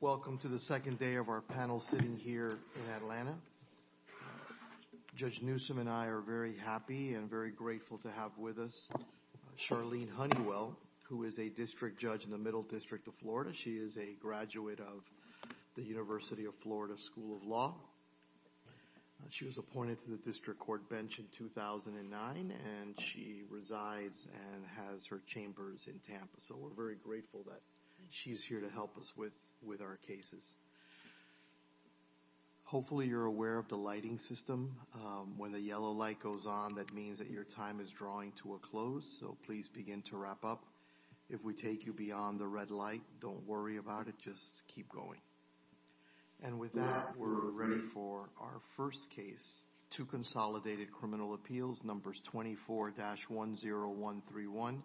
Welcome to the second day of our panel sitting here in Atlanta. Judge Newsom and I are very happy and very grateful to have with us Charlene Honeywell, who is a district judge in the Middle District of Florida. She is a graduate of the University of Florida School of Law. She was appointed to the district court bench in 2009, and she resides and has her chambers in Tampa, so we're very grateful that she's here to help us with our cases. Hopefully you're aware of the lighting system. When the yellow light goes on, that means that your time is drawing to a close, so please begin to wrap up. If we take you beyond the red light, don't worry about it, just keep going. And with that, we're ready for our first case, two consolidated criminal appeals, numbers 24-10131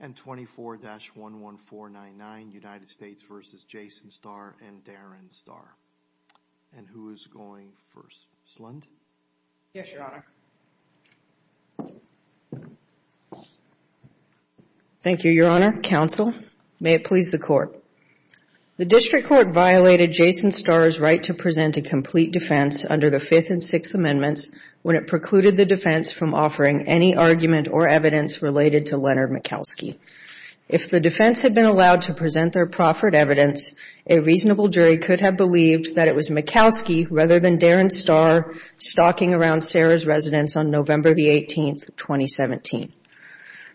and 24-11499, United States v. Jason Starr and Darren Starr. And who is going first? Slund? Yes, Your Honor. Thank you, Your Honor. Counsel, may it please the court. The district court violated Jason Starr's right to present a complete defense under the Fifth and Sixth Amendments when it precluded the defense from offering any argument or evidence related to Leonard Mikalski. If the defense had been allowed to present their proffered evidence, a reasonable jury could have believed that it was Mikalski rather than Darren Starr stalking around Sarah's residence on November 18, 2017.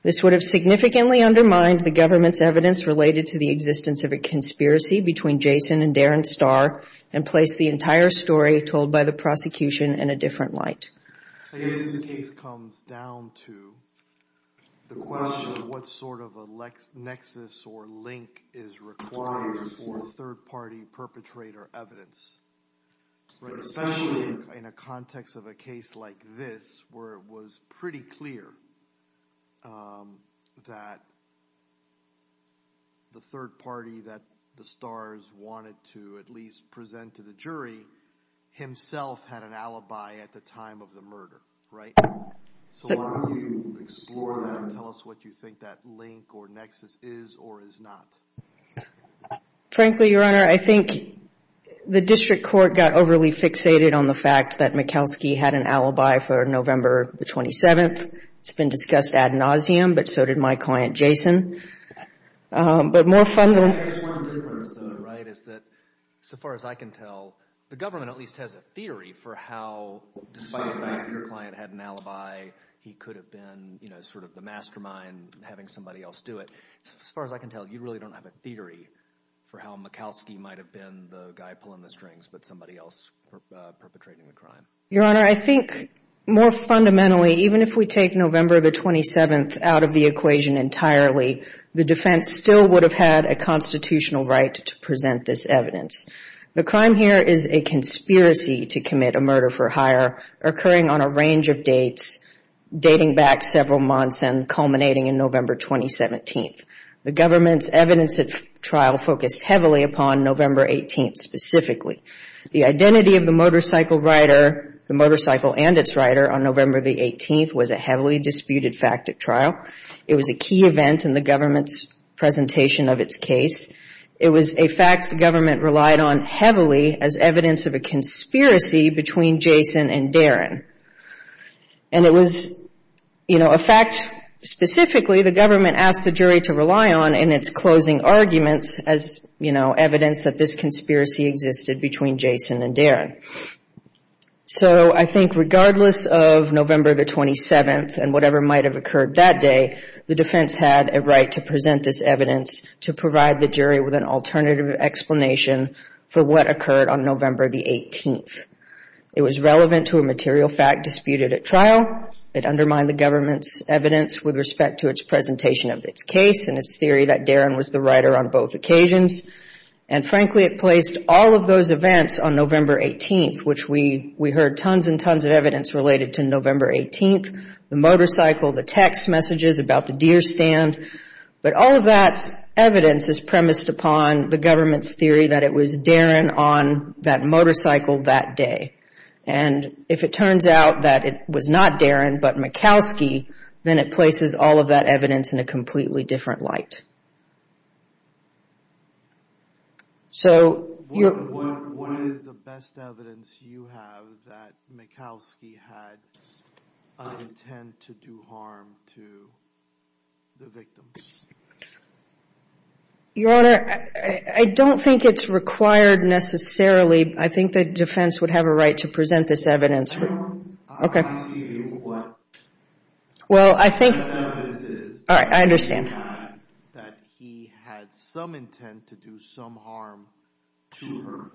This would have significantly undermined the government's evidence related to the existence of a conspiracy between Jason and Darren Starr and placed the entire story told by the prosecution in a different light. I guess this case comes down to the question of what sort of a nexus or link is required for third-party perpetrator evidence. Especially in a context of a case like this, where it was pretty clear that the third party that the Starrs wanted to at least present to the jury himself had an alibi at the time of the murder, right? So why don't you explore that and tell us what you think that link or nexus is or is not. Frankly, Your Honor, I think the district court got overly fixated on the fact that Mikalski had an alibi for November the 27th. It's been discussed ad nauseum, but so did my client, Jason. But more fundamentally... I just want to differ, though, right, is that, so far as I can tell, the government at least has a theory for how, despite the fact that your client had an alibi, he could have been, you know, sort of the mastermind having somebody else do it. As far as I can tell, you really don't have a theory for how Mikalski might have been the guy pulling the strings but somebody else perpetrating the crime. Your Honor, I think more fundamentally, even if we take November the 27th out of the equation entirely, the defense still would have had a constitutional right to present this evidence. The crime here is a conspiracy to commit a murder for hire, occurring on a range of dates, dating back several months and culminating in November 2017. The government's evidence at trial focused heavily upon November 18th specifically. The identity of the motorcycle rider, the motorcycle and its rider, on November the 18th was a heavily disputed fact at trial. It was a key event in the government's presentation of its case. It was a fact the government relied on heavily as evidence of a conspiracy between Jason and Darren. And it was, you know, a fact specifically the government asked the jury to rely on in its closing arguments as, you know, evidence that this conspiracy existed between Jason and Darren. So I think regardless of November the 27th and whatever might have occurred that day, the defense had a right to present this evidence to provide the jury with an alternative explanation for what occurred on November the 18th. It was relevant to a material fact disputed at trial. It undermined the government's evidence with respect to its presentation of its case and its theory that Darren was the rider on both occasions. And frankly, it placed all of those events on November 18th, which we heard tons and tons of evidence related to November 18th, the motorcycle, the text messages about the deer stand. But all of that evidence is premised upon the government's theory that it was Darren on that motorcycle that day. And if it turns out that it was not Darren but Mikalski, then it places all of that evidence in a completely different light. So what is the best evidence you have that Mikalski had an intent to do harm to the victims? Your Honor, I don't think it's required necessarily. I think the defense would have a right to present this evidence. I don't see what the best evidence is that he had some intent to do some harm to her.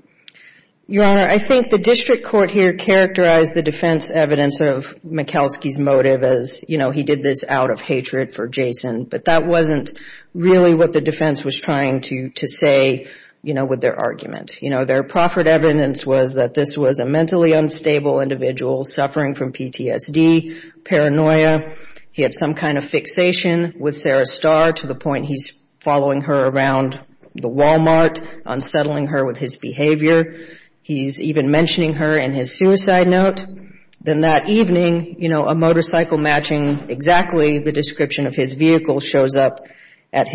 Your Honor, I think the district court here characterized the defense evidence of Mikalski's motive as, you know, he did this out of hatred for Jason. But that wasn't really what the defense was trying to say with their argument. Their proffered evidence was that this was a mentally unstable individual suffering from PTSD, paranoia. He had some kind of fixation with Sarah Starr to the point he's following her around the Walmart, unsettling her with his behavior. He's even mentioning her in his suicide note. Then that evening, you know, a motorcycle matching exactly the description of his vehicle shows up at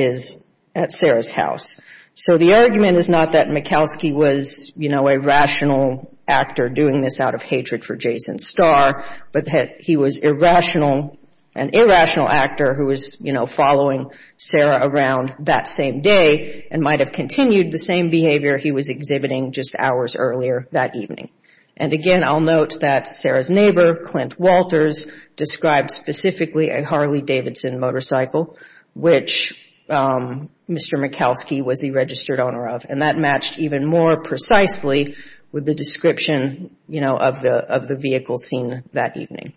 Sarah's house. So the argument is not that Mikalski was, you know, a rational actor doing this out of hatred for Jason Starr, but that he was an irrational actor who was, you know, following Sarah around that same day and might have continued the same behavior he was exhibiting just hours earlier that evening. And again, I'll note that Sarah's neighbor, Clint Walters, described specifically a Harley Davidson motorcycle, which Mr. Mikalski was the registered owner of. And that matched even more precisely with the description, you know, of the vehicle seen that evening.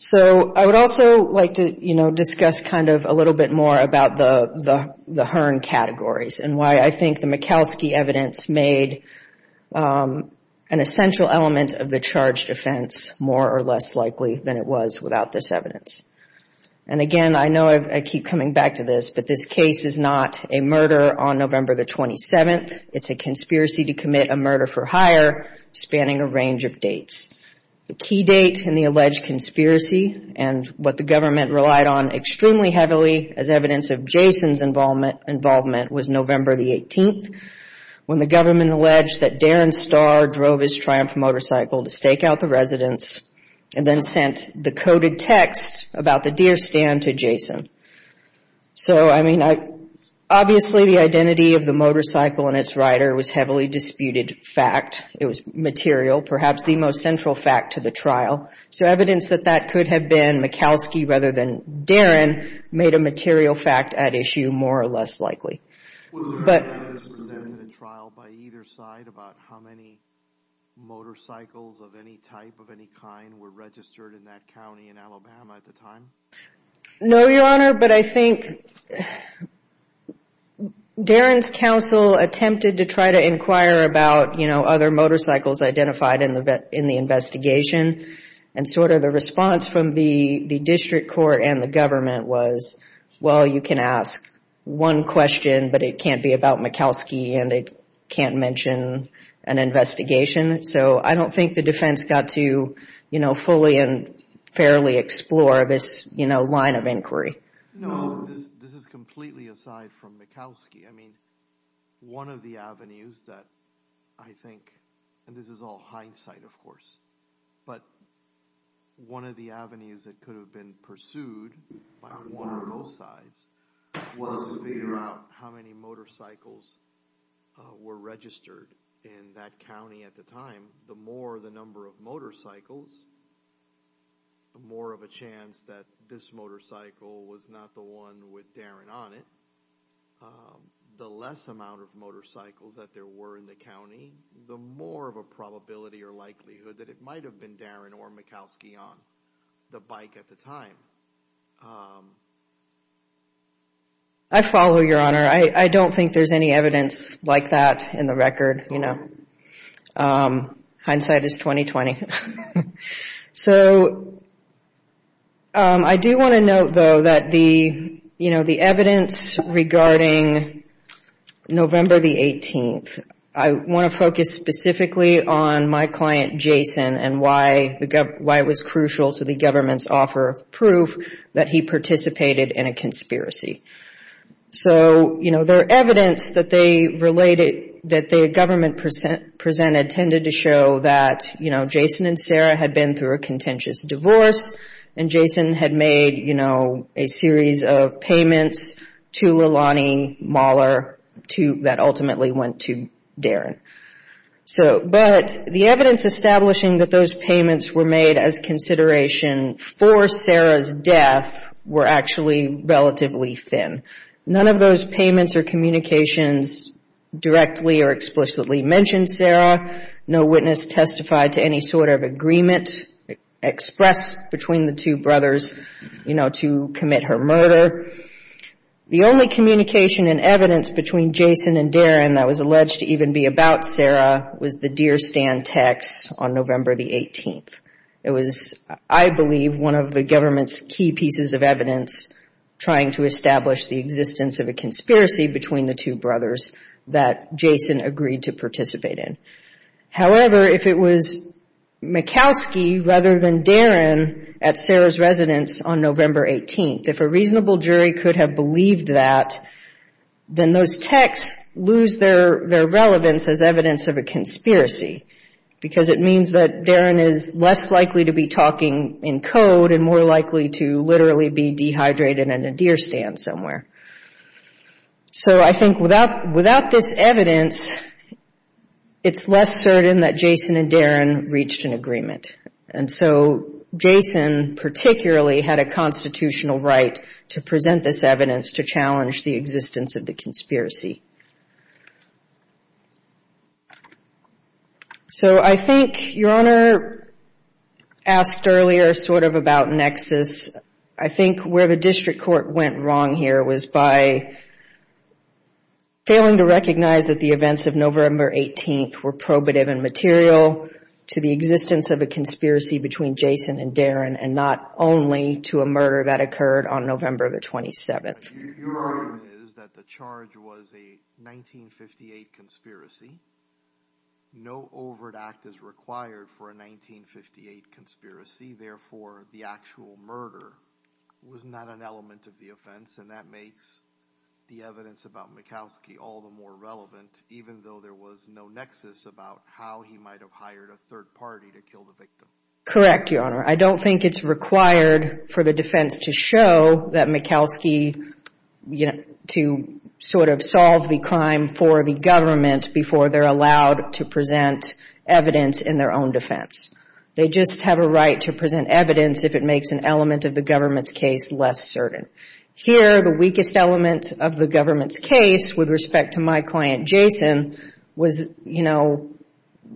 So I would also like to, you know, discuss kind of a little bit more about the Hearn categories and why I think the Mikalski evidence made an essential element of the charge defense more or less likely than it was without this evidence. And again, I know I keep coming back to this, but this case is not a murder on November the 27th. It's a conspiracy to commit a murder for hire spanning a range of dates. The key date in the alleged conspiracy and what the government relied on extremely heavily as evidence of Jason's involvement was November the 18th, when the government alleged that Darren Starr drove his Triumph motorcycle to stake out the residence and then sent the coded text about the deer stand to Jason. So, I mean, obviously the identity of the motorcycle and its rider was heavily disputed fact. It was material, perhaps the most central fact to the trial. So evidence that that could have been Mikalski rather than Darren made a material fact at issue more or less likely. Was there evidence presented in the trial by either side about how many motorcycles of any type, of any kind, were registered in that county in Alabama at the time? No, Your Honor, but I think Darren's counsel attempted to try to inquire about, you know, other motorcycles identified in the investigation. And sort of the response from the district court and the government was, well, you can ask one question, but it can't be about Mikalski and it can't mention an investigation. So I don't think the defense got to, you know, fully and fairly explore this, you know, line of inquiry. No, this is completely aside from Mikalski. I mean, one of the avenues that I think, and this is all hindsight, of course, but one of the avenues that could have been pursued by one or both sides was to figure out how many motorcycles were registered in that county at the time. The more the number of motorcycles, the more of a chance that this motorcycle was not the one with Darren on it. The less amount of motorcycles that there were in the county, the more of a probability or likelihood that it might have been Darren or Mikalski on the bike at the time. I follow, Your Honor. I don't think there's any evidence like that in the record, you know. Hindsight is 20-20. So I do want to note, though, that the, you know, the evidence regarding November the 18th, I want to focus specifically on my client, Jason, and why it was crucial to the government's offer of proof that he participated in a conspiracy. So, you know, the evidence that the government presented tended to show that, you know, Jason and Sarah had been through a contentious divorce, and Jason had made, you know, a series of payments to Leilani Mahler that ultimately went to Darren. But the evidence establishing that those payments were made as consideration for Sarah's death were actually relatively thin. None of those payments or communications directly or explicitly mentioned Sarah. No witness testified to any sort of agreement expressed between the two brothers, you know, to commit her murder. The only communication and evidence between Jason and Darren that was alleged to even be about Sarah was the Deer Stand text on November the 18th. It was, I believe, one of the government's key pieces of evidence trying to establish the existence of a conspiracy between the two brothers that Jason agreed to participate in. However, if it was Makowski rather than Darren at Sarah's residence on November 18th, if a reasonable jury could have believed that, then those texts lose their relevance as evidence of a conspiracy because it means that Darren is less likely to be talking in code and more likely to literally be dehydrated in a deer stand somewhere. So I think without this evidence, it's less certain that Jason and Darren reached an agreement. And so Jason particularly had a constitutional right to present this evidence to challenge the existence of the conspiracy. So I think Your Honor asked earlier sort of about nexus. I think where the district court went wrong here was by failing to recognize that the events of November 18th were probative and material to the existence of a conspiracy between Jason and Darren and not only to a murder that occurred on November the 27th. Your argument is that the charge was a 1958 conspiracy. No overt act is required for a 1958 conspiracy. Therefore, the actual murder was not an element of the offense. And that makes the evidence about Makowski all the more relevant, even though there was no nexus about how he might have hired a third party to kill the victim. Correct, Your Honor. I don't think it's required for the defense to show that Makowski, you know, to sort of solve the crime for the government before they're allowed to present evidence in their own defense. They just have a right to present evidence if it makes an element of the government's case less certain. Here, the weakest element of the government's case with respect to my client Jason was, you know,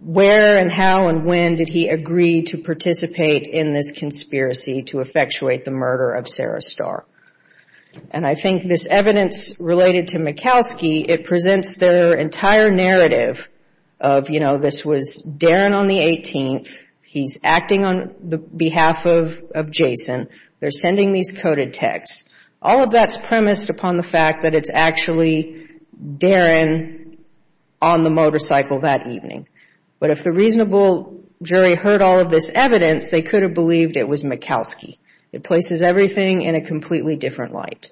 where and how and when did he agree to participate in this conspiracy to effectuate the murder of Sarah Starr. And I think this evidence related to Makowski, it presents their entire narrative of, you know, this was Darren on the 18th, he's acting on behalf of Jason, they're sending these coded texts. All of that's premised upon the fact that it's actually Darren on the motorcycle that evening. But if the reasonable jury heard all of this evidence, they could have believed it was Makowski. It places everything in a completely different light.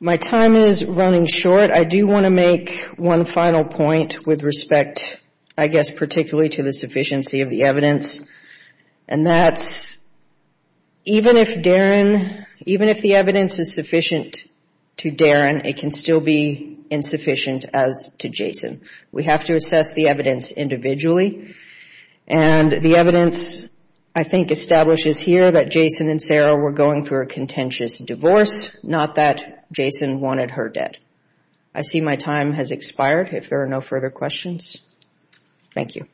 My time is running short. I do want to make one final point with respect, I guess, particularly to the sufficiency of the evidence. And that's even if Darren, even if the evidence is sufficient to Darren, it can still be insufficient as to Jason. We have to assess the evidence individually. And the evidence, I think, establishes here that Jason and Sarah were going through a contentious divorce, not that Jason wanted her dead. I see my time has expired, if there are no further questions. Thank you.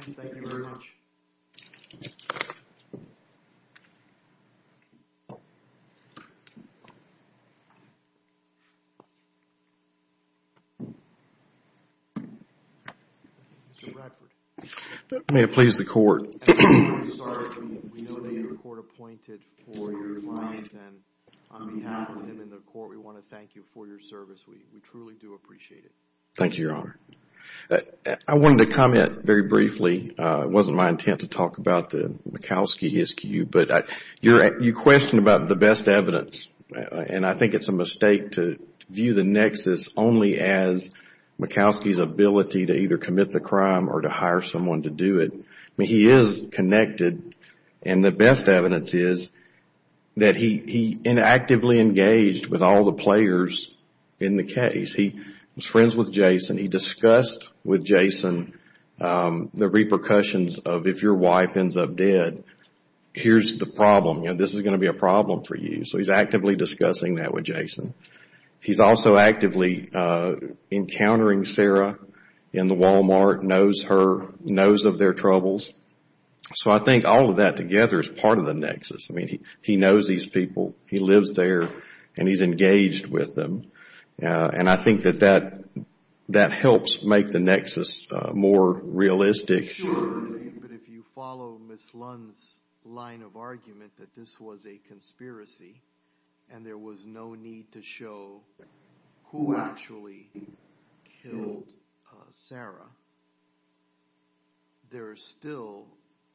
Mr. Radford. If I may please the Court. We know that you were court appointed for your client, and on behalf of him and the Court, we want to thank you for your service. We truly do appreciate it. Thank you, Your Honor. I wanted to comment very briefly. It wasn't my intent to talk about the Makowski ISCU, but you questioned about the best evidence. And I think it's a mistake to view the nexus only as Makowski's ability to either commit the crime or to hire someone to do it. He is connected, and the best evidence is that he inactively engaged with all the players in the case. He was friends with Jason. He discussed with Jason the repercussions of if your wife ends up dead, here's the problem. This is going to be a problem for you, so he's actively discussing that with Jason. He's also actively encountering Sarah in the Walmart, knows of their troubles. So I think all of that together is part of the nexus. I mean, he knows these people, he lives there, and he's engaged with them. And I think that that helps make the nexus more realistic. Sure, but if you follow Ms. Lund's line of argument that this was a conspiracy, and there was no need to show who actually killed Sarah, there is still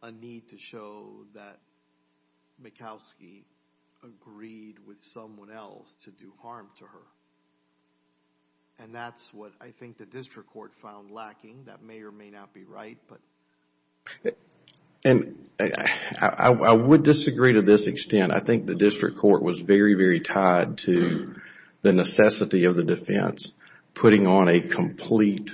a need to show that Makowski agreed with someone else to do harm to her. And that's what I think the district court found lacking. That may or may not be right. I would disagree to this extent. I think the district court was very, very tied to the necessity of the defense, putting on a complete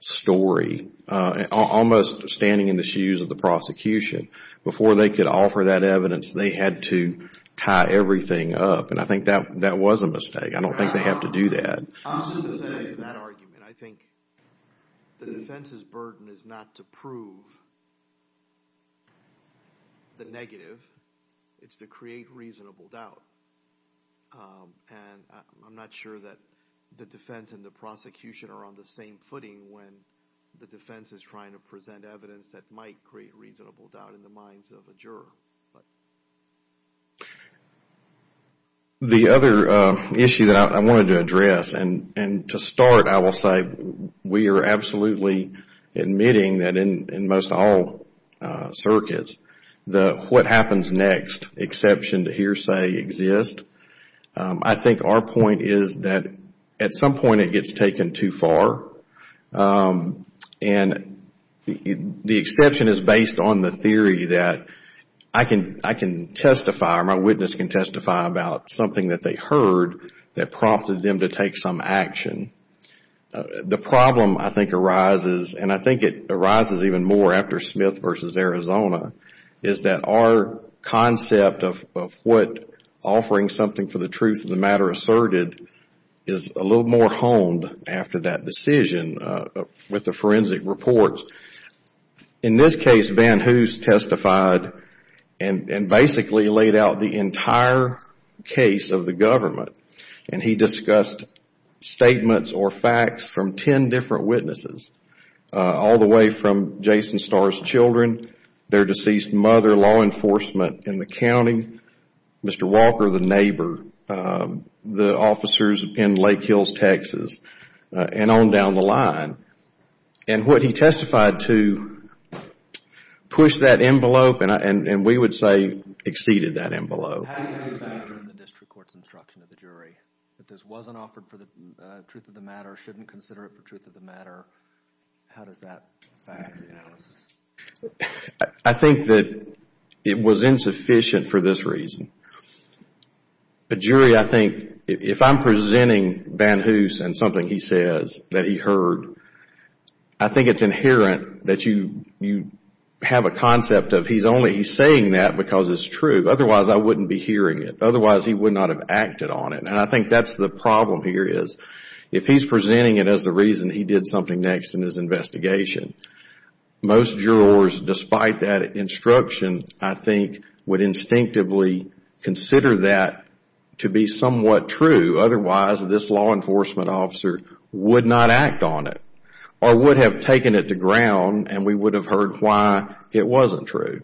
story, almost standing in the shoes of the prosecution. Before they could offer that evidence, they had to tie everything up. And I think that was a mistake. I don't think they have to do that. I think the defense's burden is not to prove the negative, it's to create reasonable doubt. And I'm not sure that the defense and the prosecution are on the same footing when the defense is trying to present evidence that might create reasonable doubt in the minds of a juror. The other issue that I wanted to address, and to start I will say, we are absolutely admitting that in most all circuits, what happens next, exception to hearsay, exists. I think our point is that at some point it gets taken too far. And the exception is based on the theory that I can testify, or my witness can testify about something that they heard that prompted them to take some action. The problem I think arises, and I think it arises even more after Smith v. Arizona, is that our concept of what offering something for the truth of the matter asserted is a little more honed after that decision with the forensic reports. In this case, Van Hoose testified and basically laid out the entire case of the government. And he discussed statements or facts from ten different witnesses, all the way from Jason Starr's children, their deceased mother, law enforcement in the county, Mr. Walker, the neighbor, the officers in Lake Hills, Texas, and on down the line. And what he testified to pushed that envelope, and we would say exceeded that envelope. How do you confirm the district court's instruction to the jury that this wasn't offered for the truth of the matter, or shouldn't consider it for truth of the matter? How does that factor in? I think that it was insufficient for this reason. The jury, I think, if I'm presenting Van Hoose and something he says that he heard, I think it's inherent that you have a concept of he's only saying that because it's true. Otherwise, I wouldn't be hearing it. Otherwise, he would not have acted on it. And I think that's the problem here, is if he's presenting it as the reason he did something next in his investigation, most jurors, despite that instruction, I think, would instinctively consider that to be somewhat true. Otherwise, this law enforcement officer would not act on it or would have taken it to ground, and we would have heard why it wasn't true.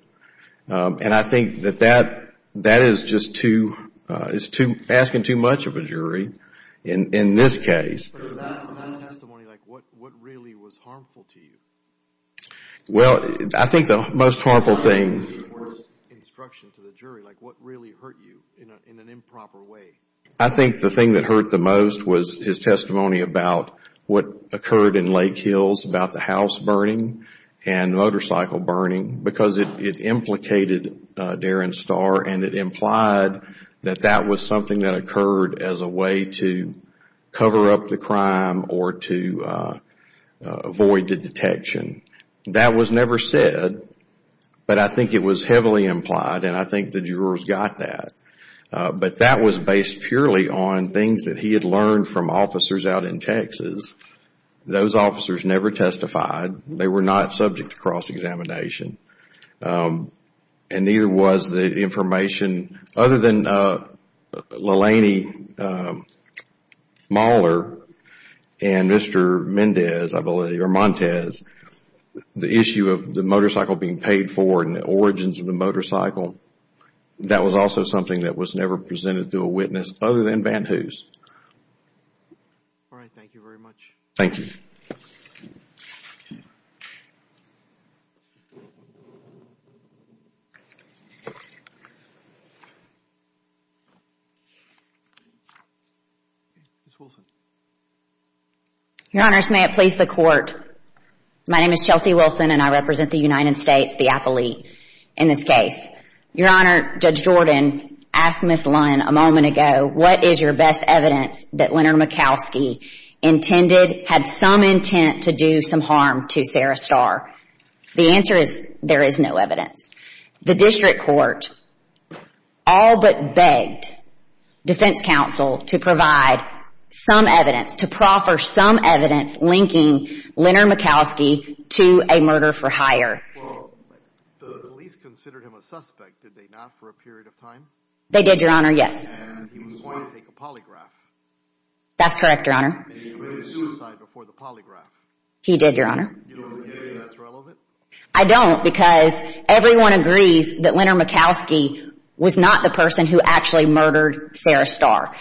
And I think that that is just asking too much of a jury in this case. For that testimony, what really was harmful to you? Well, I think the most harmful thing... I think the thing that hurt the most was his testimony about what occurred in Lake Hills, about the house burning and motorcycle burning, because it implicated Darren Starr and it implied that that was something that occurred as a way to cover up the crime or to avoid the detection. That was never said, but I think it was heavily implied, and I think the jurors got that. But that was based purely on things that he had learned from officers out in Texas. Those officers never testified. They were not subject to cross-examination, and neither was the information... Other than Leilani Moller and Mr. Mendez, I believe, or Montez, the issue of the motorcycle being paid for and the origins of the motorcycle, that was also something that was never presented to a witness other than Van Hoos. All right. Thank you very much. Thank you. Ms. Wilson. Your Honors, may it please the Court, my name is Chelsea Wilson, and I represent the United States, the appellate, in this case. Your Honor, Judge Jordan asked Ms. Lund a moment ago, what is your best evidence that Leonard Mikalski intended, had some intent to do some harm to Sarah Starr? The answer is, there is no evidence. The District Court all but begged Defense Counsel to provide some evidence, to proffer some evidence linking Leonard Mikalski to a murder for hire. Well, the police considered him a suspect, did they not, for a period of time? They did, Your Honor, yes. And he was going to take a polygraph. That's correct, Your Honor. And he committed suicide before the polygraph. He did, Your Honor. I don't, because everyone agrees that Leonard Mikalski was not the person who actually murdered Sarah Starr.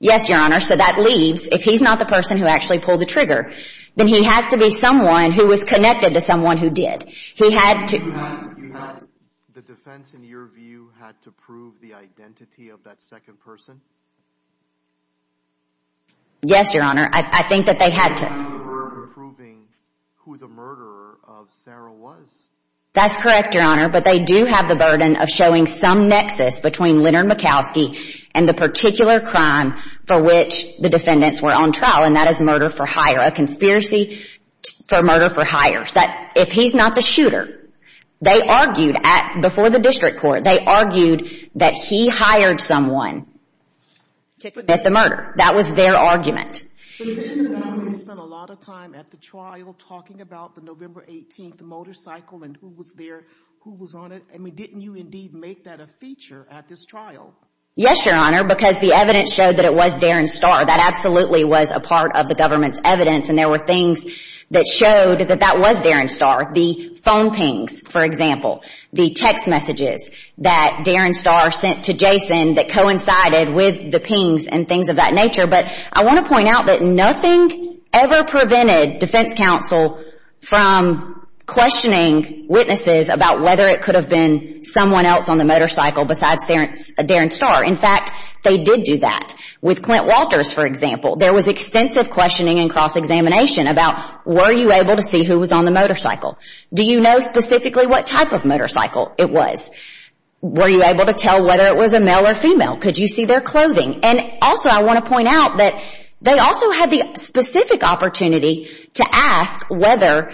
Yes, Your Honor, so that leaves, if he's not the person who actually pulled the trigger, then he has to be someone who was connected to someone who did. The defense, in your view, had to prove the identity of that second person? Yes, Your Honor. I think that they had to. That's correct, Your Honor, but they do have the burden of showing some nexus between Leonard Mikalski and the particular crime for which the defendants were on trial, and that is murder for hire, a conspiracy for murder for hire. If he's not the shooter, they argued before the district court, they argued that he hired someone to commit the murder. That was their argument. But didn't Leonard spend a lot of time at the trial talking about the November 18th motorcycle and who was there, who was on it? I mean, didn't you indeed make that a feature at this trial? Yes, Your Honor, because the evidence showed that it was Darren Starr. That absolutely was a part of the government's evidence, and there were things that showed that that was Darren Starr. The phone pings, for example. The text messages that Darren Starr sent to Jason that coincided with the pings and things of that nature. But I want to point out that nothing ever prevented defense counsel from questioning witnesses about whether it could have been someone else on the motorcycle besides Darren Starr. In fact, they did do that with Clint Walters, for example. There was extensive questioning and cross-examination about were you able to see who was on the motorcycle? Do you know specifically what type of motorcycle it was? Were you able to tell whether it was a male or female? Could you see their clothing? And also, I want to point out that they also had the specific opportunity to ask whether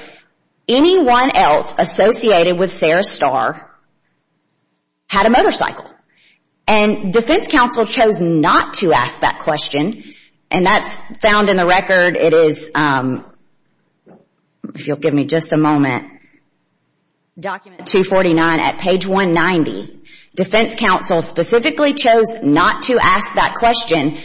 anyone else associated with Sarah Starr had a motorcycle. And defense counsel chose not to ask that question, and that's found in the record. It is, if you'll give me just a moment, document 249 at page 190. Defense counsel specifically chose not to ask that question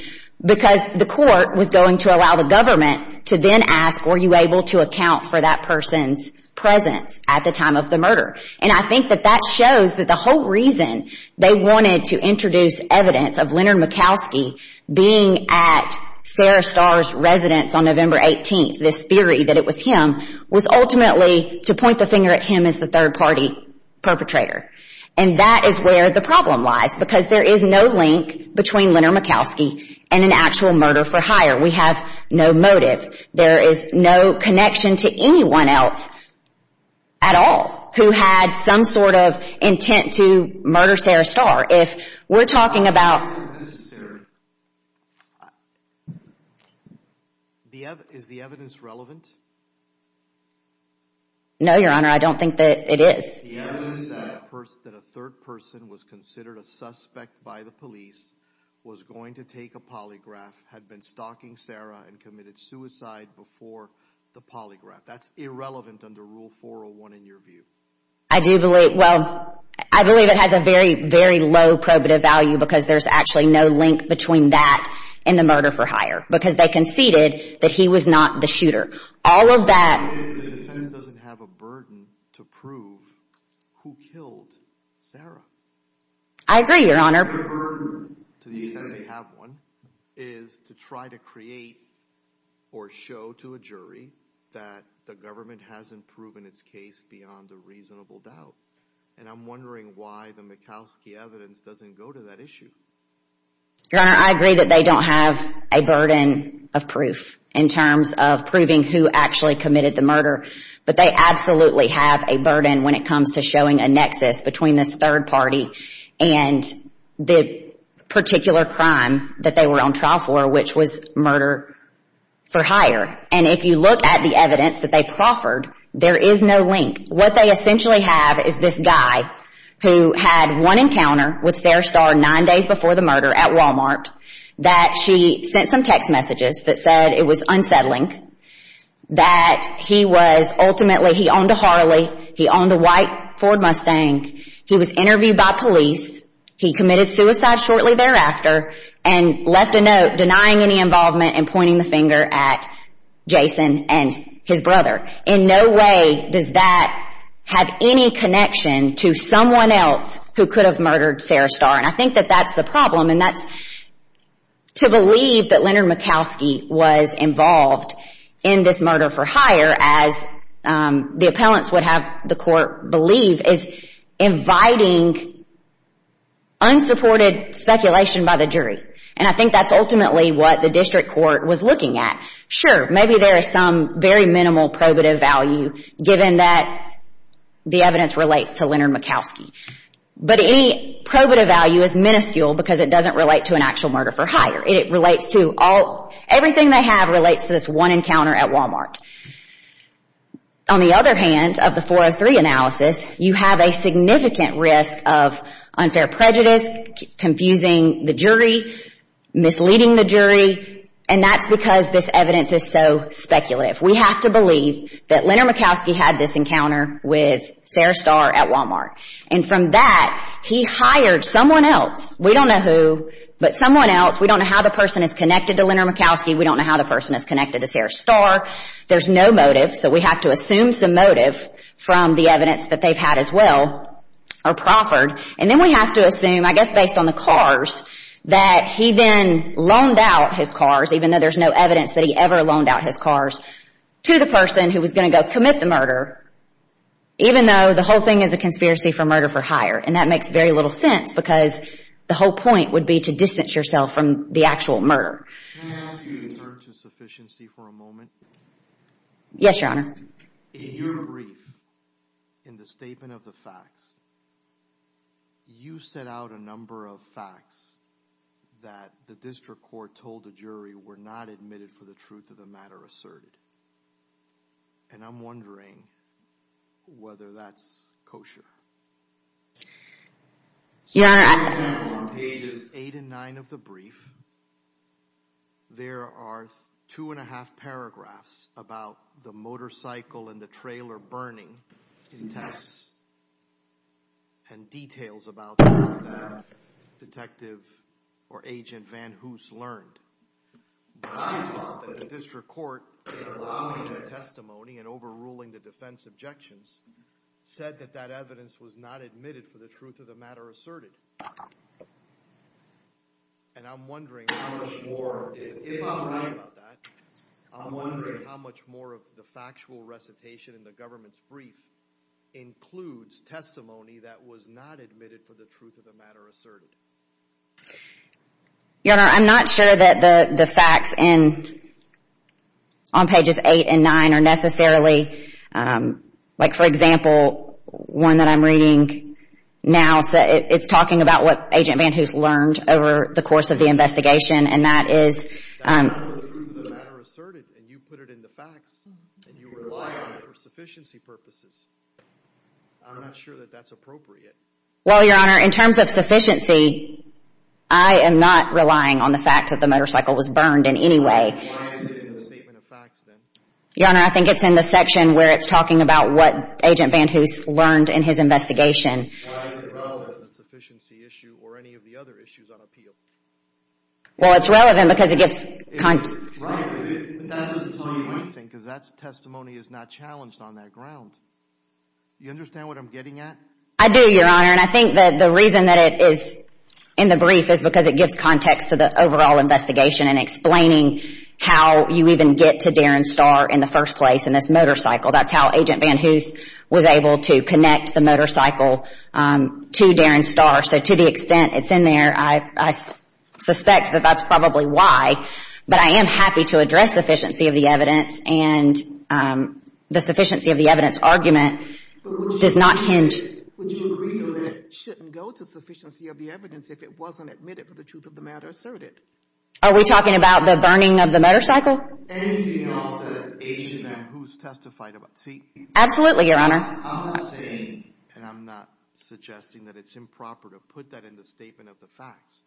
because the court was going to allow the government to then ask were you able to account for that person's presence at the time of the murder. And I think that that shows that the whole reason they wanted to introduce evidence of Leonard Mikowski being at Sarah Starr's residence on November 18th, this theory that it was him, was ultimately to point the finger at him as the third-party perpetrator. And that is where the problem lies, because there is no link between Leonard Mikowski and an actual murder for hire. We have no motive. There is no connection to anyone else at all who had some sort of intent to murder Sarah Starr. If we're talking about... Is the evidence relevant? No, Your Honor, I don't think that it is. The evidence that a third person was considered a suspect by the police, was going to take a polygraph, had been stalking Sarah, and committed suicide before the polygraph. That's irrelevant under Rule 401 in your view. I do believe, well, I believe it has a very, very low probative value because there's actually no link between that and the murder for hire. Because they conceded that he was not the shooter. The defense doesn't have a burden to prove who killed Sarah. I agree, Your Honor. Their burden, to the extent they have one, is to try to create or show to a jury that the government hasn't proven its case beyond a reasonable doubt. And I'm wondering why the Mikowski evidence doesn't go to that issue. Your Honor, I agree that they don't have a burden of proof in terms of proving who actually committed the murder. But they absolutely have a burden when it comes to showing a nexus between this third party and the particular crime that they were on trial for, which was murder for hire. And if you look at the evidence that they proffered, there is no link. What they essentially have is this guy who had one encounter with Sarah Starr nine days before the murder at Walmart, that she sent some text messages that said it was unsettling, that he was ultimately, he owned a Harley, he owned a white Ford Mustang, he was interviewed by police, he committed suicide shortly thereafter, and left a note denying any involvement and pointing the finger at Jason and his brother. In no way does that have any connection to someone else who could have murdered Sarah Starr. And I think that that's the problem. To believe that Leonard Mikowski was involved in this murder for hire, as the appellants would have the court believe, is inviting unsupported speculation by the jury. And I think that's ultimately what the district court was looking at. Sure, maybe there is some very minimal probative value given that the evidence relates to Leonard Mikowski. But any probative value is minuscule because it doesn't relate to an actual murder for hire. It relates to all, everything they have relates to this one encounter at Walmart. On the other hand, of the 403 analysis, you have a significant risk of unfair prejudice, confusing the jury, misleading the jury, and that's because this evidence is so speculative. We have to believe that Leonard Mikowski had this encounter with Sarah Starr at Walmart. And from that, he hired someone else. We don't know who, but someone else. We don't know how the person is connected to Leonard Mikowski. We don't know how the person is connected to Sarah Starr. There's no motive. So we have to assume some motive from the evidence that they've had as well or proffered. And then we have to assume, I guess based on the cars, that he then loaned out his cars, even though there's no evidence that he ever loaned out his cars, to the person who was going to go commit the murder, even though the whole thing is a conspiracy for murder for hire. And that makes very little sense because the whole point would be to distance yourself from the actual murder. Can I ask you to turn to sufficiency for a moment? In your brief, in the statement of the facts, you set out a number of facts that the district court told the jury were not admitted for the truth of the matter asserted. And I'm wondering whether that's kosher. In pages eight and nine of the brief, there are two and a half paragraphs about the motorcycle and the trailer burning in Texas and details about that that Detective or Agent Van Hoose learned. I thought that the district court, in allowing the testimony and overruling the defense objections, said that that evidence was not admitted for the truth of the matter asserted. And I'm wondering if I'm right about that, I'm wondering how much more of the factual recitation in the government's brief includes testimony that was not admitted for the truth of the matter asserted. Your Honor, I'm not sure that the facts on pages eight and nine are necessarily, like for example, one that I'm reading now, it's talking about what Agent Van Hoose learned over the course of the investigation, and that is the truth of the matter asserted, and you put it in the facts, and you rely on it for sufficiency purposes. I'm not sure that that's appropriate. Well, Your Honor, in terms of sufficiency, I am not relying on the fact that the motorcycle was burned in any way. Why is it in the statement of facts then? Your Honor, I think it's in the section where it's talking about what Agent Van Hoose learned in his investigation. Why is it relevant in the sufficiency issue or any of the other issues on appeal? Well, it's relevant because it gives context. Right, but that's the point, I think, because that testimony is not challenged on that ground. Do you understand what I'm getting at? I do, Your Honor, and I think that the reason that it is in the brief is because it gives context to the overall investigation and explaining how you even get to Darren Starr in the first place in this motorcycle. That's how Agent Van Hoose was able to connect the motorcycle to Darren Starr. So to the extent it's in there, I suspect that that's probably why, but I am happy to address sufficiency of the evidence, and the sufficiency of the evidence argument does not hint. But would you agree that it shouldn't go to sufficiency of the evidence if it wasn't admitted for the truth of the matter asserted? Are we talking about the burning of the motorcycle? Anything else that Agent Van Hoose testified about? Absolutely, Your Honor. I'm not saying, and I'm not suggesting that it's improper to put that in the statement of the facts,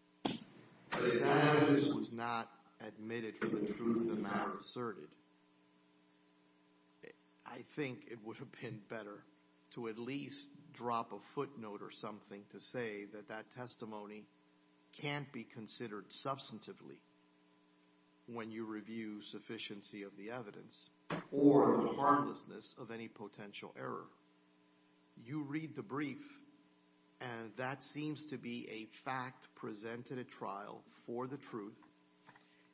but if that evidence was not admitted for the truth of the matter asserted, I think it would have been better to at least drop a footnote or something to say that that testimony can't be considered substantively when you review sufficiency of the evidence or the harmlessness of any potential error. You read the brief and that seems to be a fact presented at trial for the truth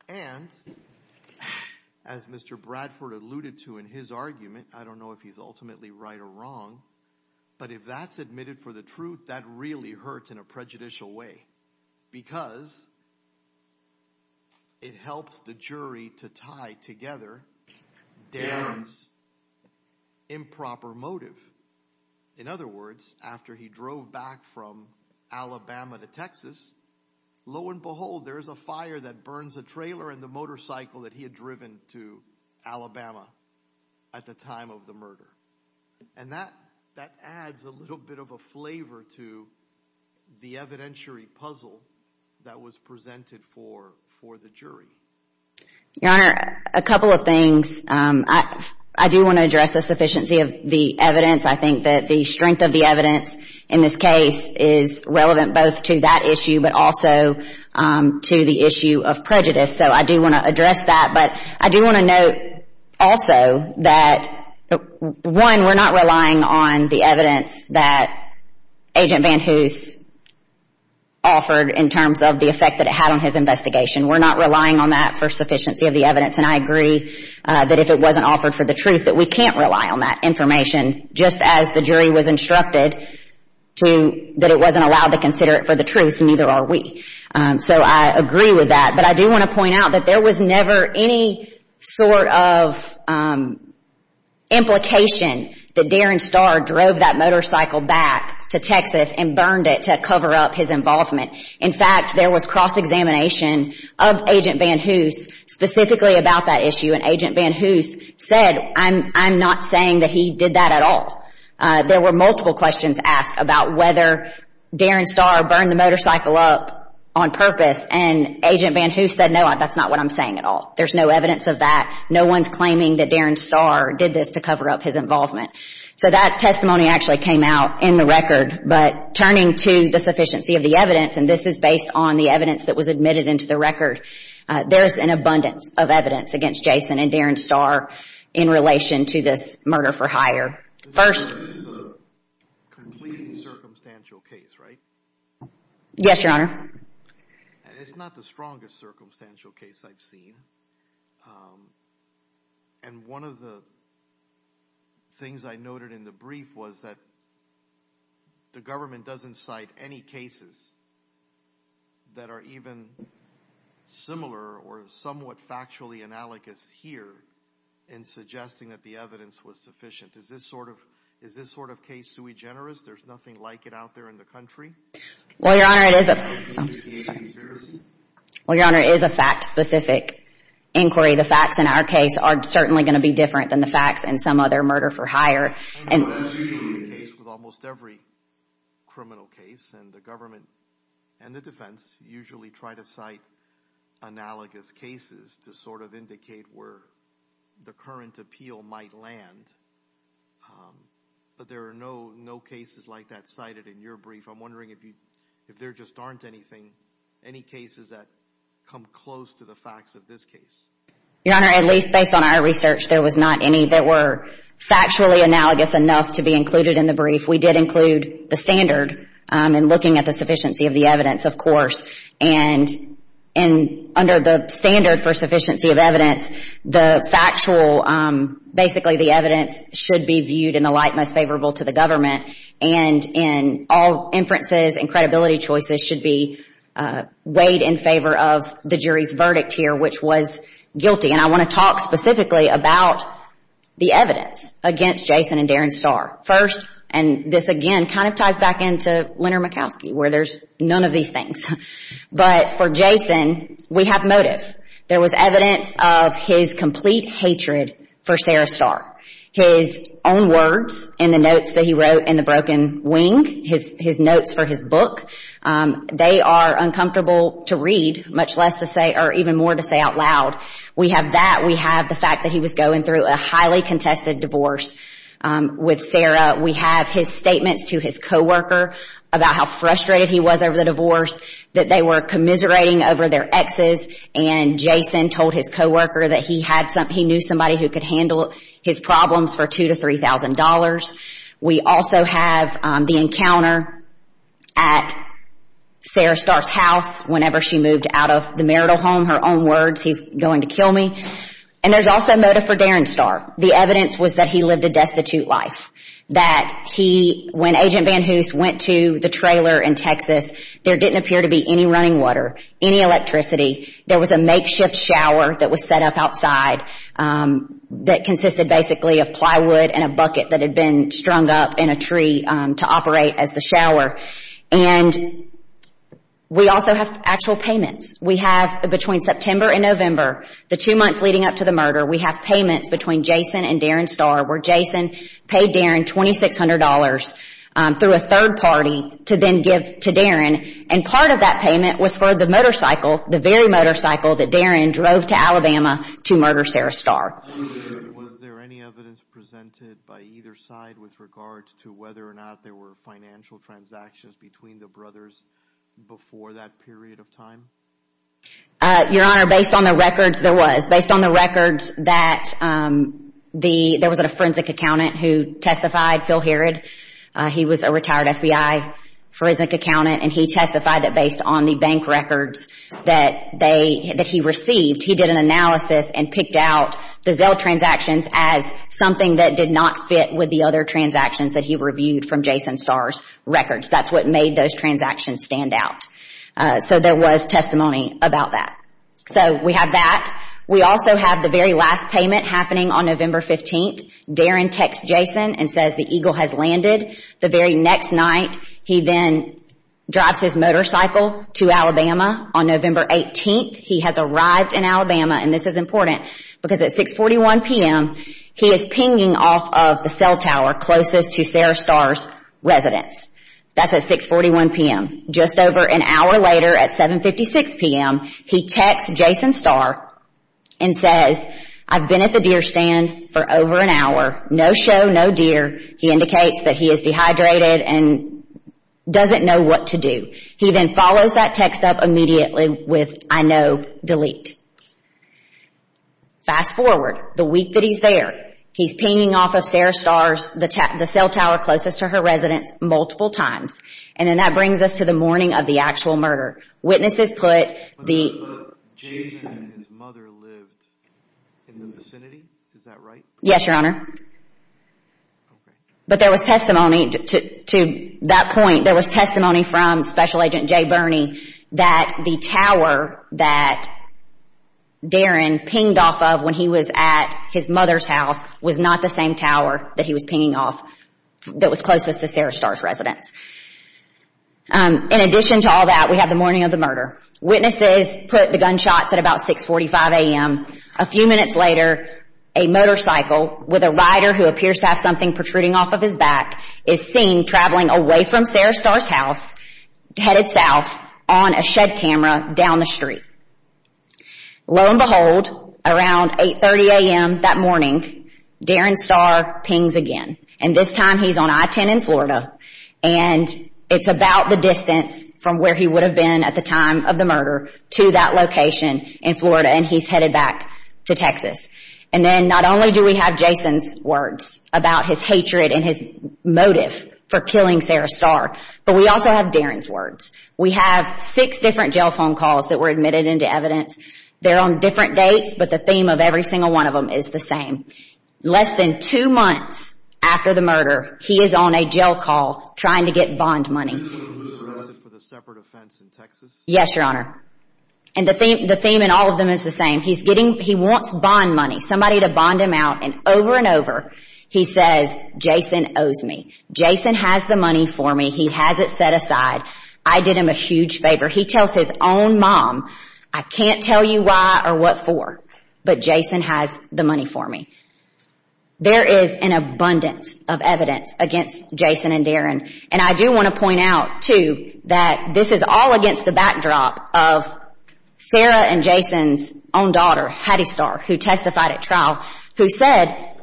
and as Mr. Bradford alluded to in his argument, I don't know if he's ultimately right or wrong, but if that's admitted for the truth, that really hurts in a prejudicial way because it helps the jury to tie together Darren's improper motive. In other words, after he drove back from Alabama to Texas, lo and behold, there's a fire that burns a trailer and the motorcycle that he had driven to Alabama at the time. I don't know if there's a flavor to the evidentiary puzzle that was presented for the jury. Your Honor, a couple of things. I do want to address the sufficiency of the evidence. I think that the strength of the evidence in this case is relevant both to that issue, but also to the issue of prejudice. So I do want to address that, but I do want to note also that one, we're not relying on the evidence that Agent Van Hoose offered in terms of the effect that it had on his investigation. We're not relying on that for sufficiency of the evidence and I agree that if it wasn't offered for the truth, that we can't rely on that information just as the jury was instructed that it wasn't allowed to consider it for the truth and neither are we. So I agree with that, but I do want to point out that there was never any sort of implication that Darren Starr drove that motorcycle back to Texas and burned it to cover up his involvement. In fact, there was cross-examination of Agent Van Hoose specifically about that issue and Agent Van Hoose said, I'm not saying that he did that at all. There were multiple questions asked about whether Darren Starr burned the motorcycle up on purpose and Agent Van Hoose said, no, that's not what I'm saying at all. There's no evidence of that. No one's claiming that Darren Starr did this to cover up his involvement. So that testimony actually came out in the record, but turning to the sufficiency of the evidence, and this is based on the evidence that was admitted into the record, there's an abundance of evidence against Jason and Darren Starr in relation to this murder for hire. First... Yes, Your Honor. Well, Your Honor, it is a... Well, Your Honor, it is a fact-specific inquiry. The facts in our case are certainly going to be different than the facts in some other murder for hire. ...with almost every criminal case and the government and the defense usually try to cite analogous cases to sort of indicate where the current appeal might land, but there are no cases like that cited in your brief. I'm wondering if there just aren't anything, any cases that come close to the facts of this case. Your Honor, at least based on our research, there was not any that were factually analogous enough to be included in the brief. We did include the standard in looking at the sufficiency of the evidence, of course, and under the standard for sufficiency of evidence, the factual, basically the evidence should be viewed in the light most favorable to the government and all inferences and credibility choices should be weighed in favor of the jury's verdict here, which was guilty. And I want to talk specifically about the evidence against Jason and Darren Starr. First, and this, again, kind of ties back into Leonard Mikowski where there's none of these things, but for Jason, we have motive. There was evidence of his complete hatred for Sarah Starr. His own words in the notes that he wrote in the broken wing, his notes for his book, they are uncomfortable to read, much less to say or even more to say out loud. We have that. We have the fact that he was going through a highly contested divorce with Sarah. We have his statements to his co-worker about how frustrated he was over the divorce, that they were commiserating over their exes, and Jason told his co-worker that he knew somebody who could handle his problems for $2,000 to $3,000. We also have the encounter at Sarah Starr's house whenever she moved out of the marital home, her own words, he's going to kill me. And there's also motive for Darren Starr. The evidence was that he lived a destitute life, that when Agent Van Hoose went to the trailer in Texas, there didn't appear to be any running water, any electricity. There was a makeshift shower that was set up outside that consisted basically of plywood and a bucket that had been strung up in a tree to operate as the shower. And we also have actual payments. We have, between September and November, the two months leading up to the murder, we have payments between Jason and Darren Starr where Jason paid Darren $2,600 through a third party to then give to Darren. And part of that payment was for the motorcycle, the very motorcycle that Darren drove to Alabama to murder Sarah Starr. Was there any evidence presented by either side with regards to whether or not there were financial transactions between the brothers before that period of time? Your Honor, based on the records, there was. Based on the records that there was a forensic accountant who testified, Phil Herod, he was a retired FBI forensic accountant, and he testified that based on the bank records that he received, he did an analysis and picked out the Zelle transactions as something that did not fit with the other transactions that he reviewed from Jason Starr's records. That's what made those transactions stand out. So there was testimony about that. So we have that. We also have the very last payment happening on November 15th. Darren texts Jason and says the Eagle has landed. The very next night, he then drives his motorcycle to Alabama. On November 18th, he has arrived in Alabama, and this is important, because at 6.41 p.m., he is pinging off of the cell tower closest to Sarah Starr's residence. That's at 6.41 p.m. Just over an hour later at 7.56 p.m., he texts Jason Starr and says, I've been at the deer stand for over an hour. No show, no deer. He indicates that he is dehydrated and doesn't know what to do. He then follows that text up immediately with, I know, delete. Fast forward the week that he's there, he's pinging off of Sarah Starr's cell tower closest to her residence multiple times, and then that brings us to the morning of the actual murder. Witnesses put the testimony that Jason and his mother lived in the vicinity. Is that right? Yes, Your Honor. But there was testimony to that point. There was testimony from Special Agent Jay Burney that the tower that Darren pinged off of when he was at his mother's house was not the same tower that he was pinging off that was closest to Sarah Starr's residence. In addition to all that, we have the morning of the murder. Witnesses put the gunshots at about 6.45 a.m. A few minutes later, a motorcycle with a rider who appears to have something protruding off of his back is seen traveling away from Sarah Starr's house headed south on a shed camera down the street. Lo and behold, around 8.30 a.m. that morning, Darren Starr pings again, and this time he's on I-10 in Florida, and it's about the distance from where he would have been at the time of the murder to that location in Florida, and he's headed back to Texas. And then not only do we have Jason's words about his hatred and his motive for killing Sarah Starr, but we also have Darren's words. We have six different jail phone calls that were admitted into evidence. They're on different dates, but the theme of every single one of them is the same. Less than two months after the murder, he is on a jail call trying to get bond money. Is this for the separate offense in Texas? Yes, Your Honor. And the theme in all of them is the same. He wants bond money, somebody to bond him out. And over and over, he says, Jason owes me. Jason has the money for me. He has it set aside. I did him a huge favor. He tells his own mom, I can't tell you why or what for, but Jason has the money for me. There is an abundance of evidence against Jason and Darren, and I do want to point out, too, that this is all against the backdrop of Sarah and Jason's own daughter, Hattie Starr, who testified at trial, who said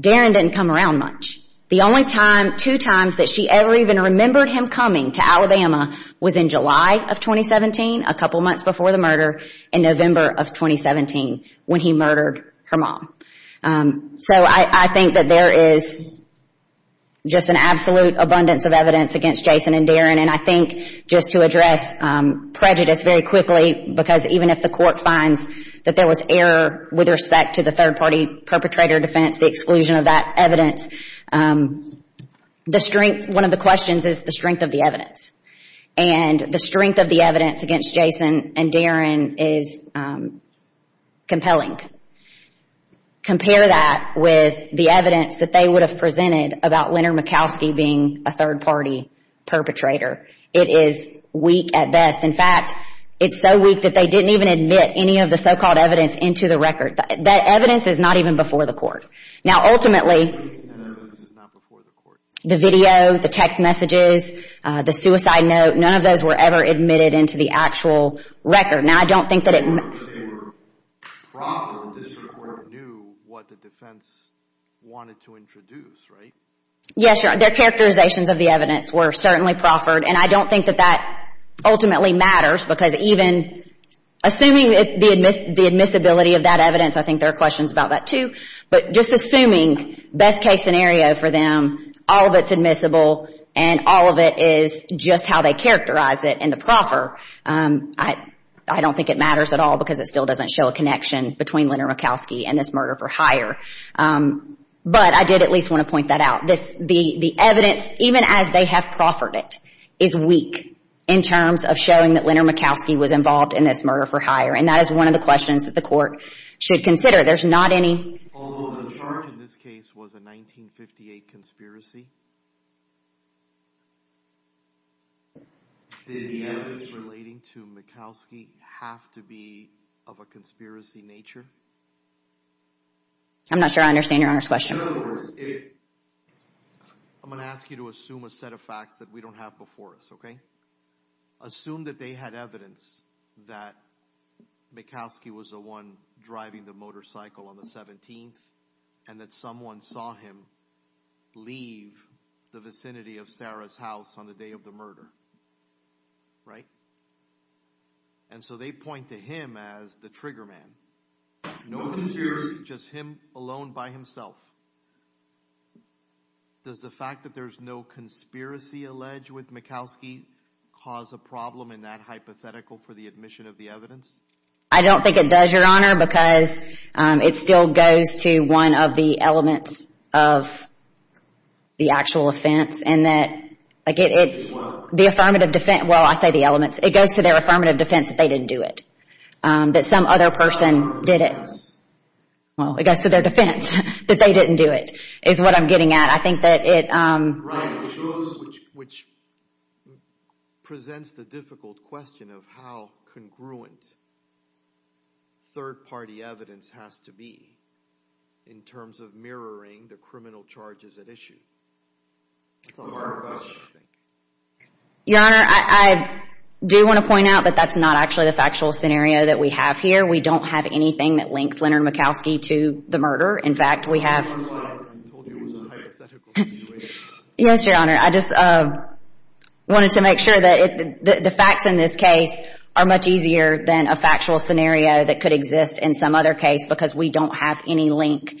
Darren didn't come around much. The only two times that she ever even remembered him coming to Alabama was in July of 2017, a couple months before the murder, in November of 2017, when he murdered her mom. So I think that there is just an absolute abundance of evidence against Jason and Darren, and I think just to address prejudice very quickly, because even if the court finds that there was error with respect to the third-party perpetrator defense, the exclusion of that evidence, one of the questions is the strength of the evidence. And the strength of the evidence against Jason and Darren is compelling. Compare that with the evidence that they would have presented about Leonard Makowski being a third-party perpetrator. It is weak at best. In fact, it's so weak that they didn't even admit any of the so-called evidence into the record. That evidence is not even before the court. Now, ultimately, the video, the text messages, the suicide note, none of those were ever admitted into the actual record. Now, I don't think that it... Yes, Your Honor. Their characterizations of the evidence were certainly proffered, and I don't think that that ultimately matters, because even assuming the admissibility of that evidence, I think there are questions about that, too. But just assuming, best-case scenario for them, all of it's admissible, and all of it is just how they characterize it in the proffer, I don't think it matters at all, because it still doesn't show a connection between Leonard Makowski and this murder for hire. But I did at least want to point that out. The evidence, even as they have proffered it, is weak in terms of showing that Leonard Makowski was involved in this murder for hire. And that is one of the questions that the court should consider. There's not any... Although the charge in this case was a 1958 conspiracy? Did the evidence relating to Makowski have to be of a conspiracy nature? I'm not sure I understand Your Honor's question. I'm going to ask you to assume a set of facts that we don't have before us, okay? Assume that they had evidence that Makowski was the one driving the motorcycle on the 17th, and that someone saw him leave the vicinity of Sarah's house on the day of the murder, right? And so they point to him as the trigger man. No conspiracy, just him alone by himself. Does the fact that there's no conspiracy alleged with Makowski cause a problem in that hypothetical for the admission of the evidence? I don't think it does, Your Honor, because it still goes to one of the elements of the actual offense, and that... Well, I say the elements. It goes to their affirmative defense that they didn't do it. That some other person did it. Well, it goes to their defense that they didn't do it, is what I'm getting at. I think that it... Which presents the difficult question of how congruent third-party evidence has to be in terms of mirroring the criminal charges at issue. That's a hard question. Your Honor, I do want to point out that that's not actually the factual scenario that we have here. We don't have anything that links Leonard Makowski to the murder. In fact, we have... Yes, Your Honor, I just wanted to make sure that the facts in this case are much easier than a factual scenario that could exist in some other case because we don't have any link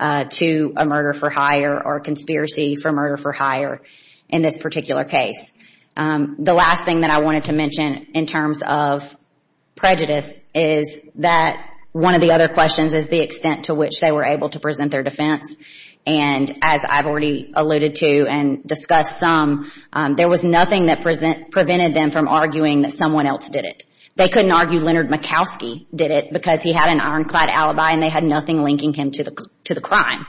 to a murder for hire or a conspiracy for murder for hire in this particular case. The last thing that I wanted to mention in terms of prejudice is that one of the other questions is the extent to which they were able to present their defense. And as I've already alluded to and discussed some, there was nothing that prevented them from arguing that someone else did it. They couldn't argue Leonard Makowski did it because he had an ironclad alibi and they had nothing linking him to the crime.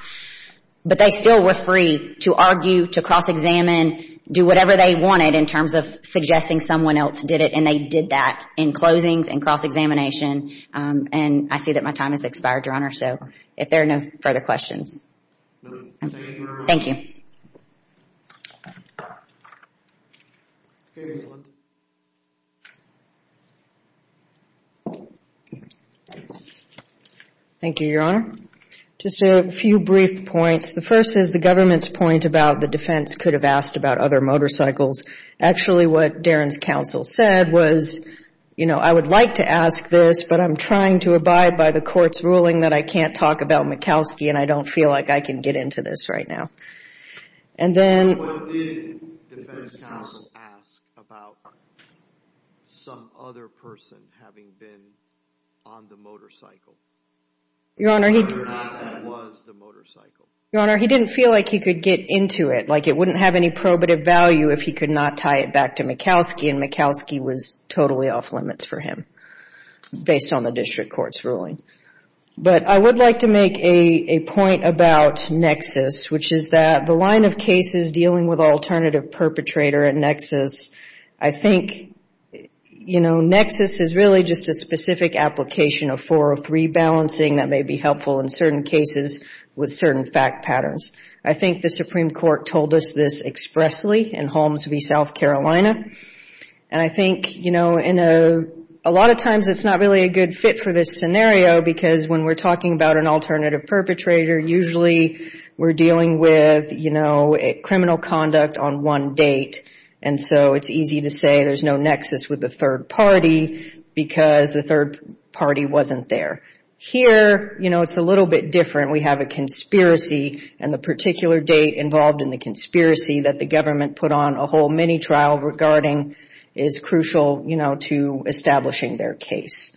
But they still were free to argue, to cross-examine, do whatever they wanted in terms of suggesting someone else did it, and they did that in closings and cross-examination. And I see that my time has expired, Your Honor, so if there are no further questions. Thank you. Thank you, Your Honor. Just a few brief points. The first is the government's point about the defense could have asked about other motorcycles. Actually, what Darren's counsel said was, you know, I would like to ask this, but I'm trying to abide by the court's ruling that I can't talk about Makowski and I don't feel like I can get into this right now. What did the defense counsel ask about some other person having been on the motorcycle? Your Honor, he didn't feel like he could get into it, like it wouldn't have any probative value if he could not tie it back to Makowski, and Makowski was totally off limits for him based on the district court's ruling. But I would like to make a point about Nexus, which is that the line of cases dealing with alternative perpetrator at Nexus, I think, you know, Nexus is really just a specific application of 403 balancing that may be helpful in certain cases with certain fact patterns. I think the Supreme Court told us this expressly in Holmes v. South Carolina, and I think, you know, a lot of times it's not really a good fit for this scenario because when we're talking about an alternative perpetrator, usually we're dealing with, you know, criminal conduct on one date, and so it's easy to say there's no Nexus with the third party because the third party wasn't there. Here, you know, it's a little bit different. We have a conspiracy, and the particular date involved in the conspiracy that the government put on a whole mini-trial regarding is crucial, you know, to establishing their case.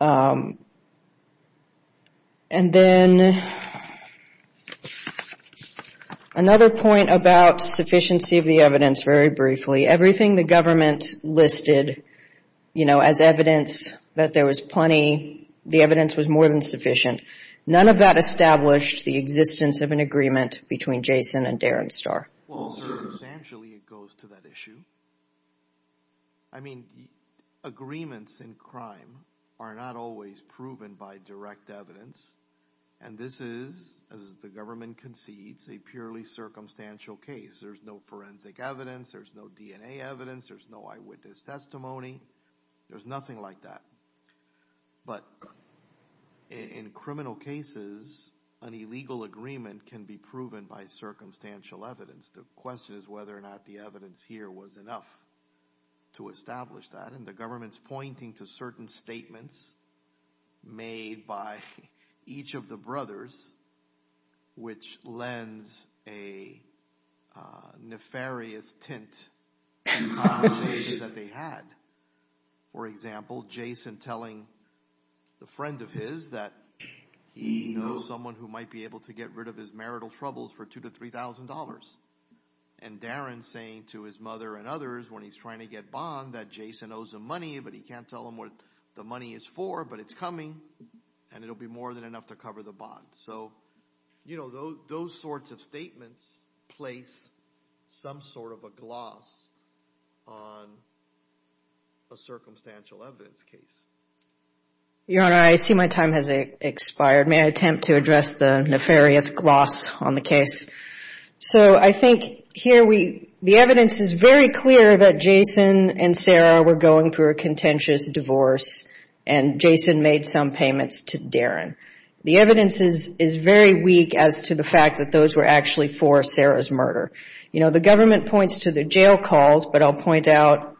And then another point about sufficiency of the evidence very briefly. Everything the government listed, you know, as evidence that there was plenty, the evidence was more than sufficient. None of that established the existence of an agreement between Jason and Darren Starr. Well, circumstantially it goes to that issue. I mean, agreements in crime are not always proven by direct evidence, and this is, as the government concedes, a purely circumstantial case. There's no forensic evidence, there's no DNA evidence, there's no eyewitness testimony. There's nothing like that. But in criminal cases, an illegal agreement can be proven by circumstantial evidence. The question is whether or not the evidence here was enough to establish that, and the government's pointing to certain statements made by each of the brothers, which lends a nefarious tint to conversations that they had. For example, Jason telling the friend of his that he knows someone who might be able to get rid of his marital troubles for $2,000 to $3,000. And Darren saying to his mother and others when he's trying to get bond that Jason owes him money, but he can't tell him what the money is for, but it's coming, and it'll be more than enough to cover the bond. So, you know, those sorts of statements place some sort of a gloss on a circumstantial evidence case. Your Honor, I see my time has expired. May I attempt to address the nefarious gloss on the case? So I think here we, the evidence is very clear that Jason and Sarah were going through a contentious divorce, and Jason made some payments to Darren. The evidence is very weak as to the fact that those were actually for Sarah's murder. You know, the government points to the jail calls, but I'll point out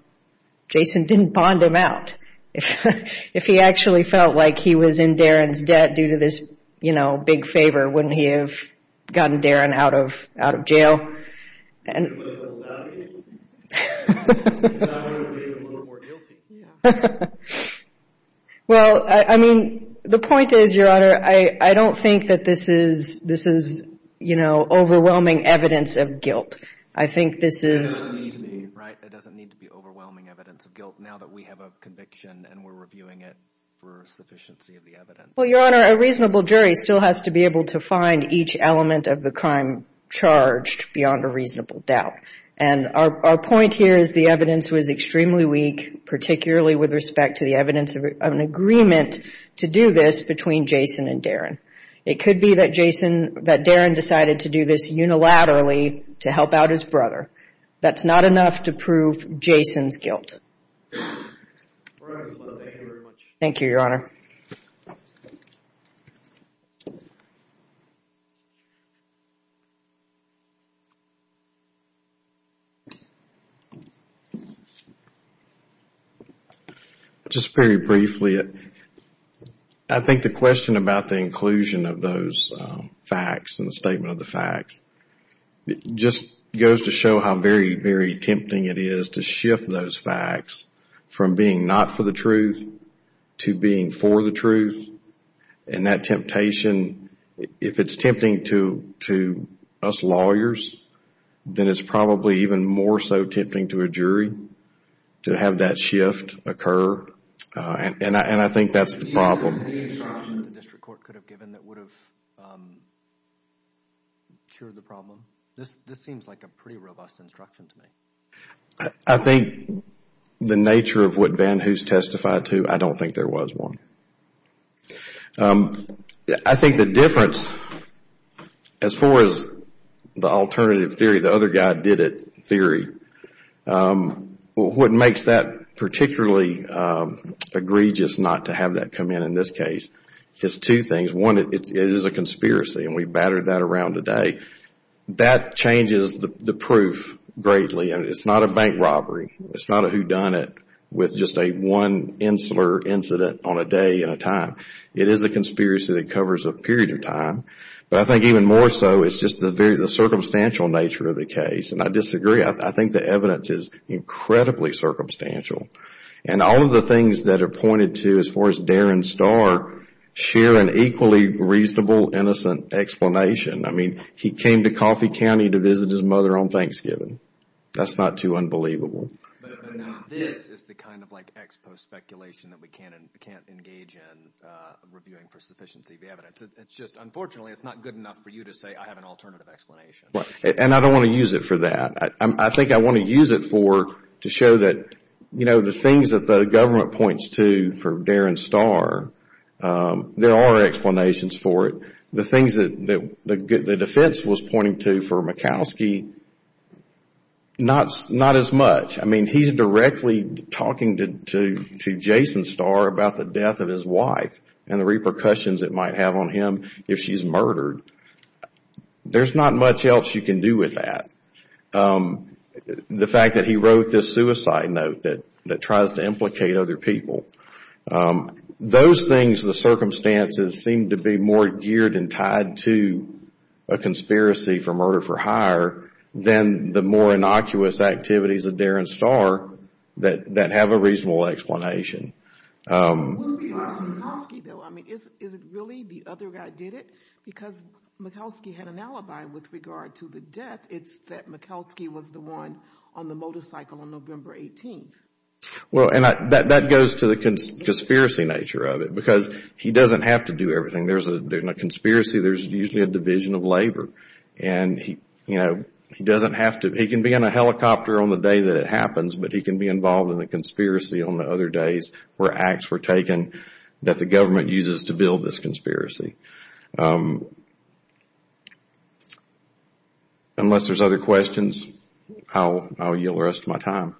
Jason didn't bond him out. If he actually felt like he was in Darren's debt due to this, you know, big favor, wouldn't he have gotten Darren out of jail? Well, I mean, the point is, Your Honor, I don't think that this is, you know, overwhelming evidence of guilt. I think this is... It doesn't need to be, right? It doesn't need to be overwhelming evidence of guilt now that we have a conviction and we're reviewing it for sufficiency of the evidence. Well, Your Honor, a reasonable jury still has to be able to find each element of the crime charged beyond a reasonable doubt. And our point here is the evidence was extremely weak, particularly with respect to the evidence of an agreement to do this between Jason and Darren. It could be that Jason, that Darren decided to do this unilaterally to help out his brother. That's not enough to prove Jason's guilt. Thank you, Your Honor. Just very briefly, I think the question about the inclusion of those facts and the statement of the facts just goes to show how very, very tempting it is to shift those facts from being not for the truth to being for the truth. And that temptation, if it's tempting to us lawyers, then it's probably even more so tempting to a jury to have that shift occur. And I think that's the problem. I think the nature of what Van Hoos testified to, I don't think there was one. I think the difference, as far as the alternative theory, the other guy did it theory, what makes that particularly egregious not to have that come in in this case is two things. One, it is a conspiracy and we battered that around today. That changes the proof greatly. It's not a bank robbery. It's not a whodunit with just a one insular incident on a day at a time. It is a conspiracy that covers a period of time. But I think even more so, it's just the circumstantial nature of the case. And I disagree. I think the evidence is incredibly circumstantial. And all of the things that are pointed to, as far as Darin Starr, share an equally reasonable, innocent explanation. I mean, he came to Coffee County to visit his mother on Thanksgiving. That's not too unbelievable. And I don't want to use it for that. I think I want to use it for, to show that the things that the government points to for Darin Starr, there are explanations for it. The things that the defense was pointing to for Murkowski, not as much. I mean, he's directly talking to Jason Starr about the death of his wife and the repercussions it might have on him if she's murdered. There's not much else you can do with that. The fact that he wrote this suicide note that tries to implicate other people. Those things, the circumstances seem to be more geared and tied to a conspiracy for murder for hire than the more innocuous activities of Darin Starr that have a reasonable explanation. Is it really the other guy did it? Because Murkowski had an alibi with regard to the death. It's that Murkowski was the one on the motorcycle on November 18th. Well, and that goes to the conspiracy nature of it. Because he doesn't have to do everything. In a conspiracy, there's usually a division of labor. He can be in a helicopter on the day that it happens, but he can be involved in a conspiracy on the other days where acts were taken that the government uses to investigate that conspiracy. Unless there's other questions, I'll yield the rest of my time.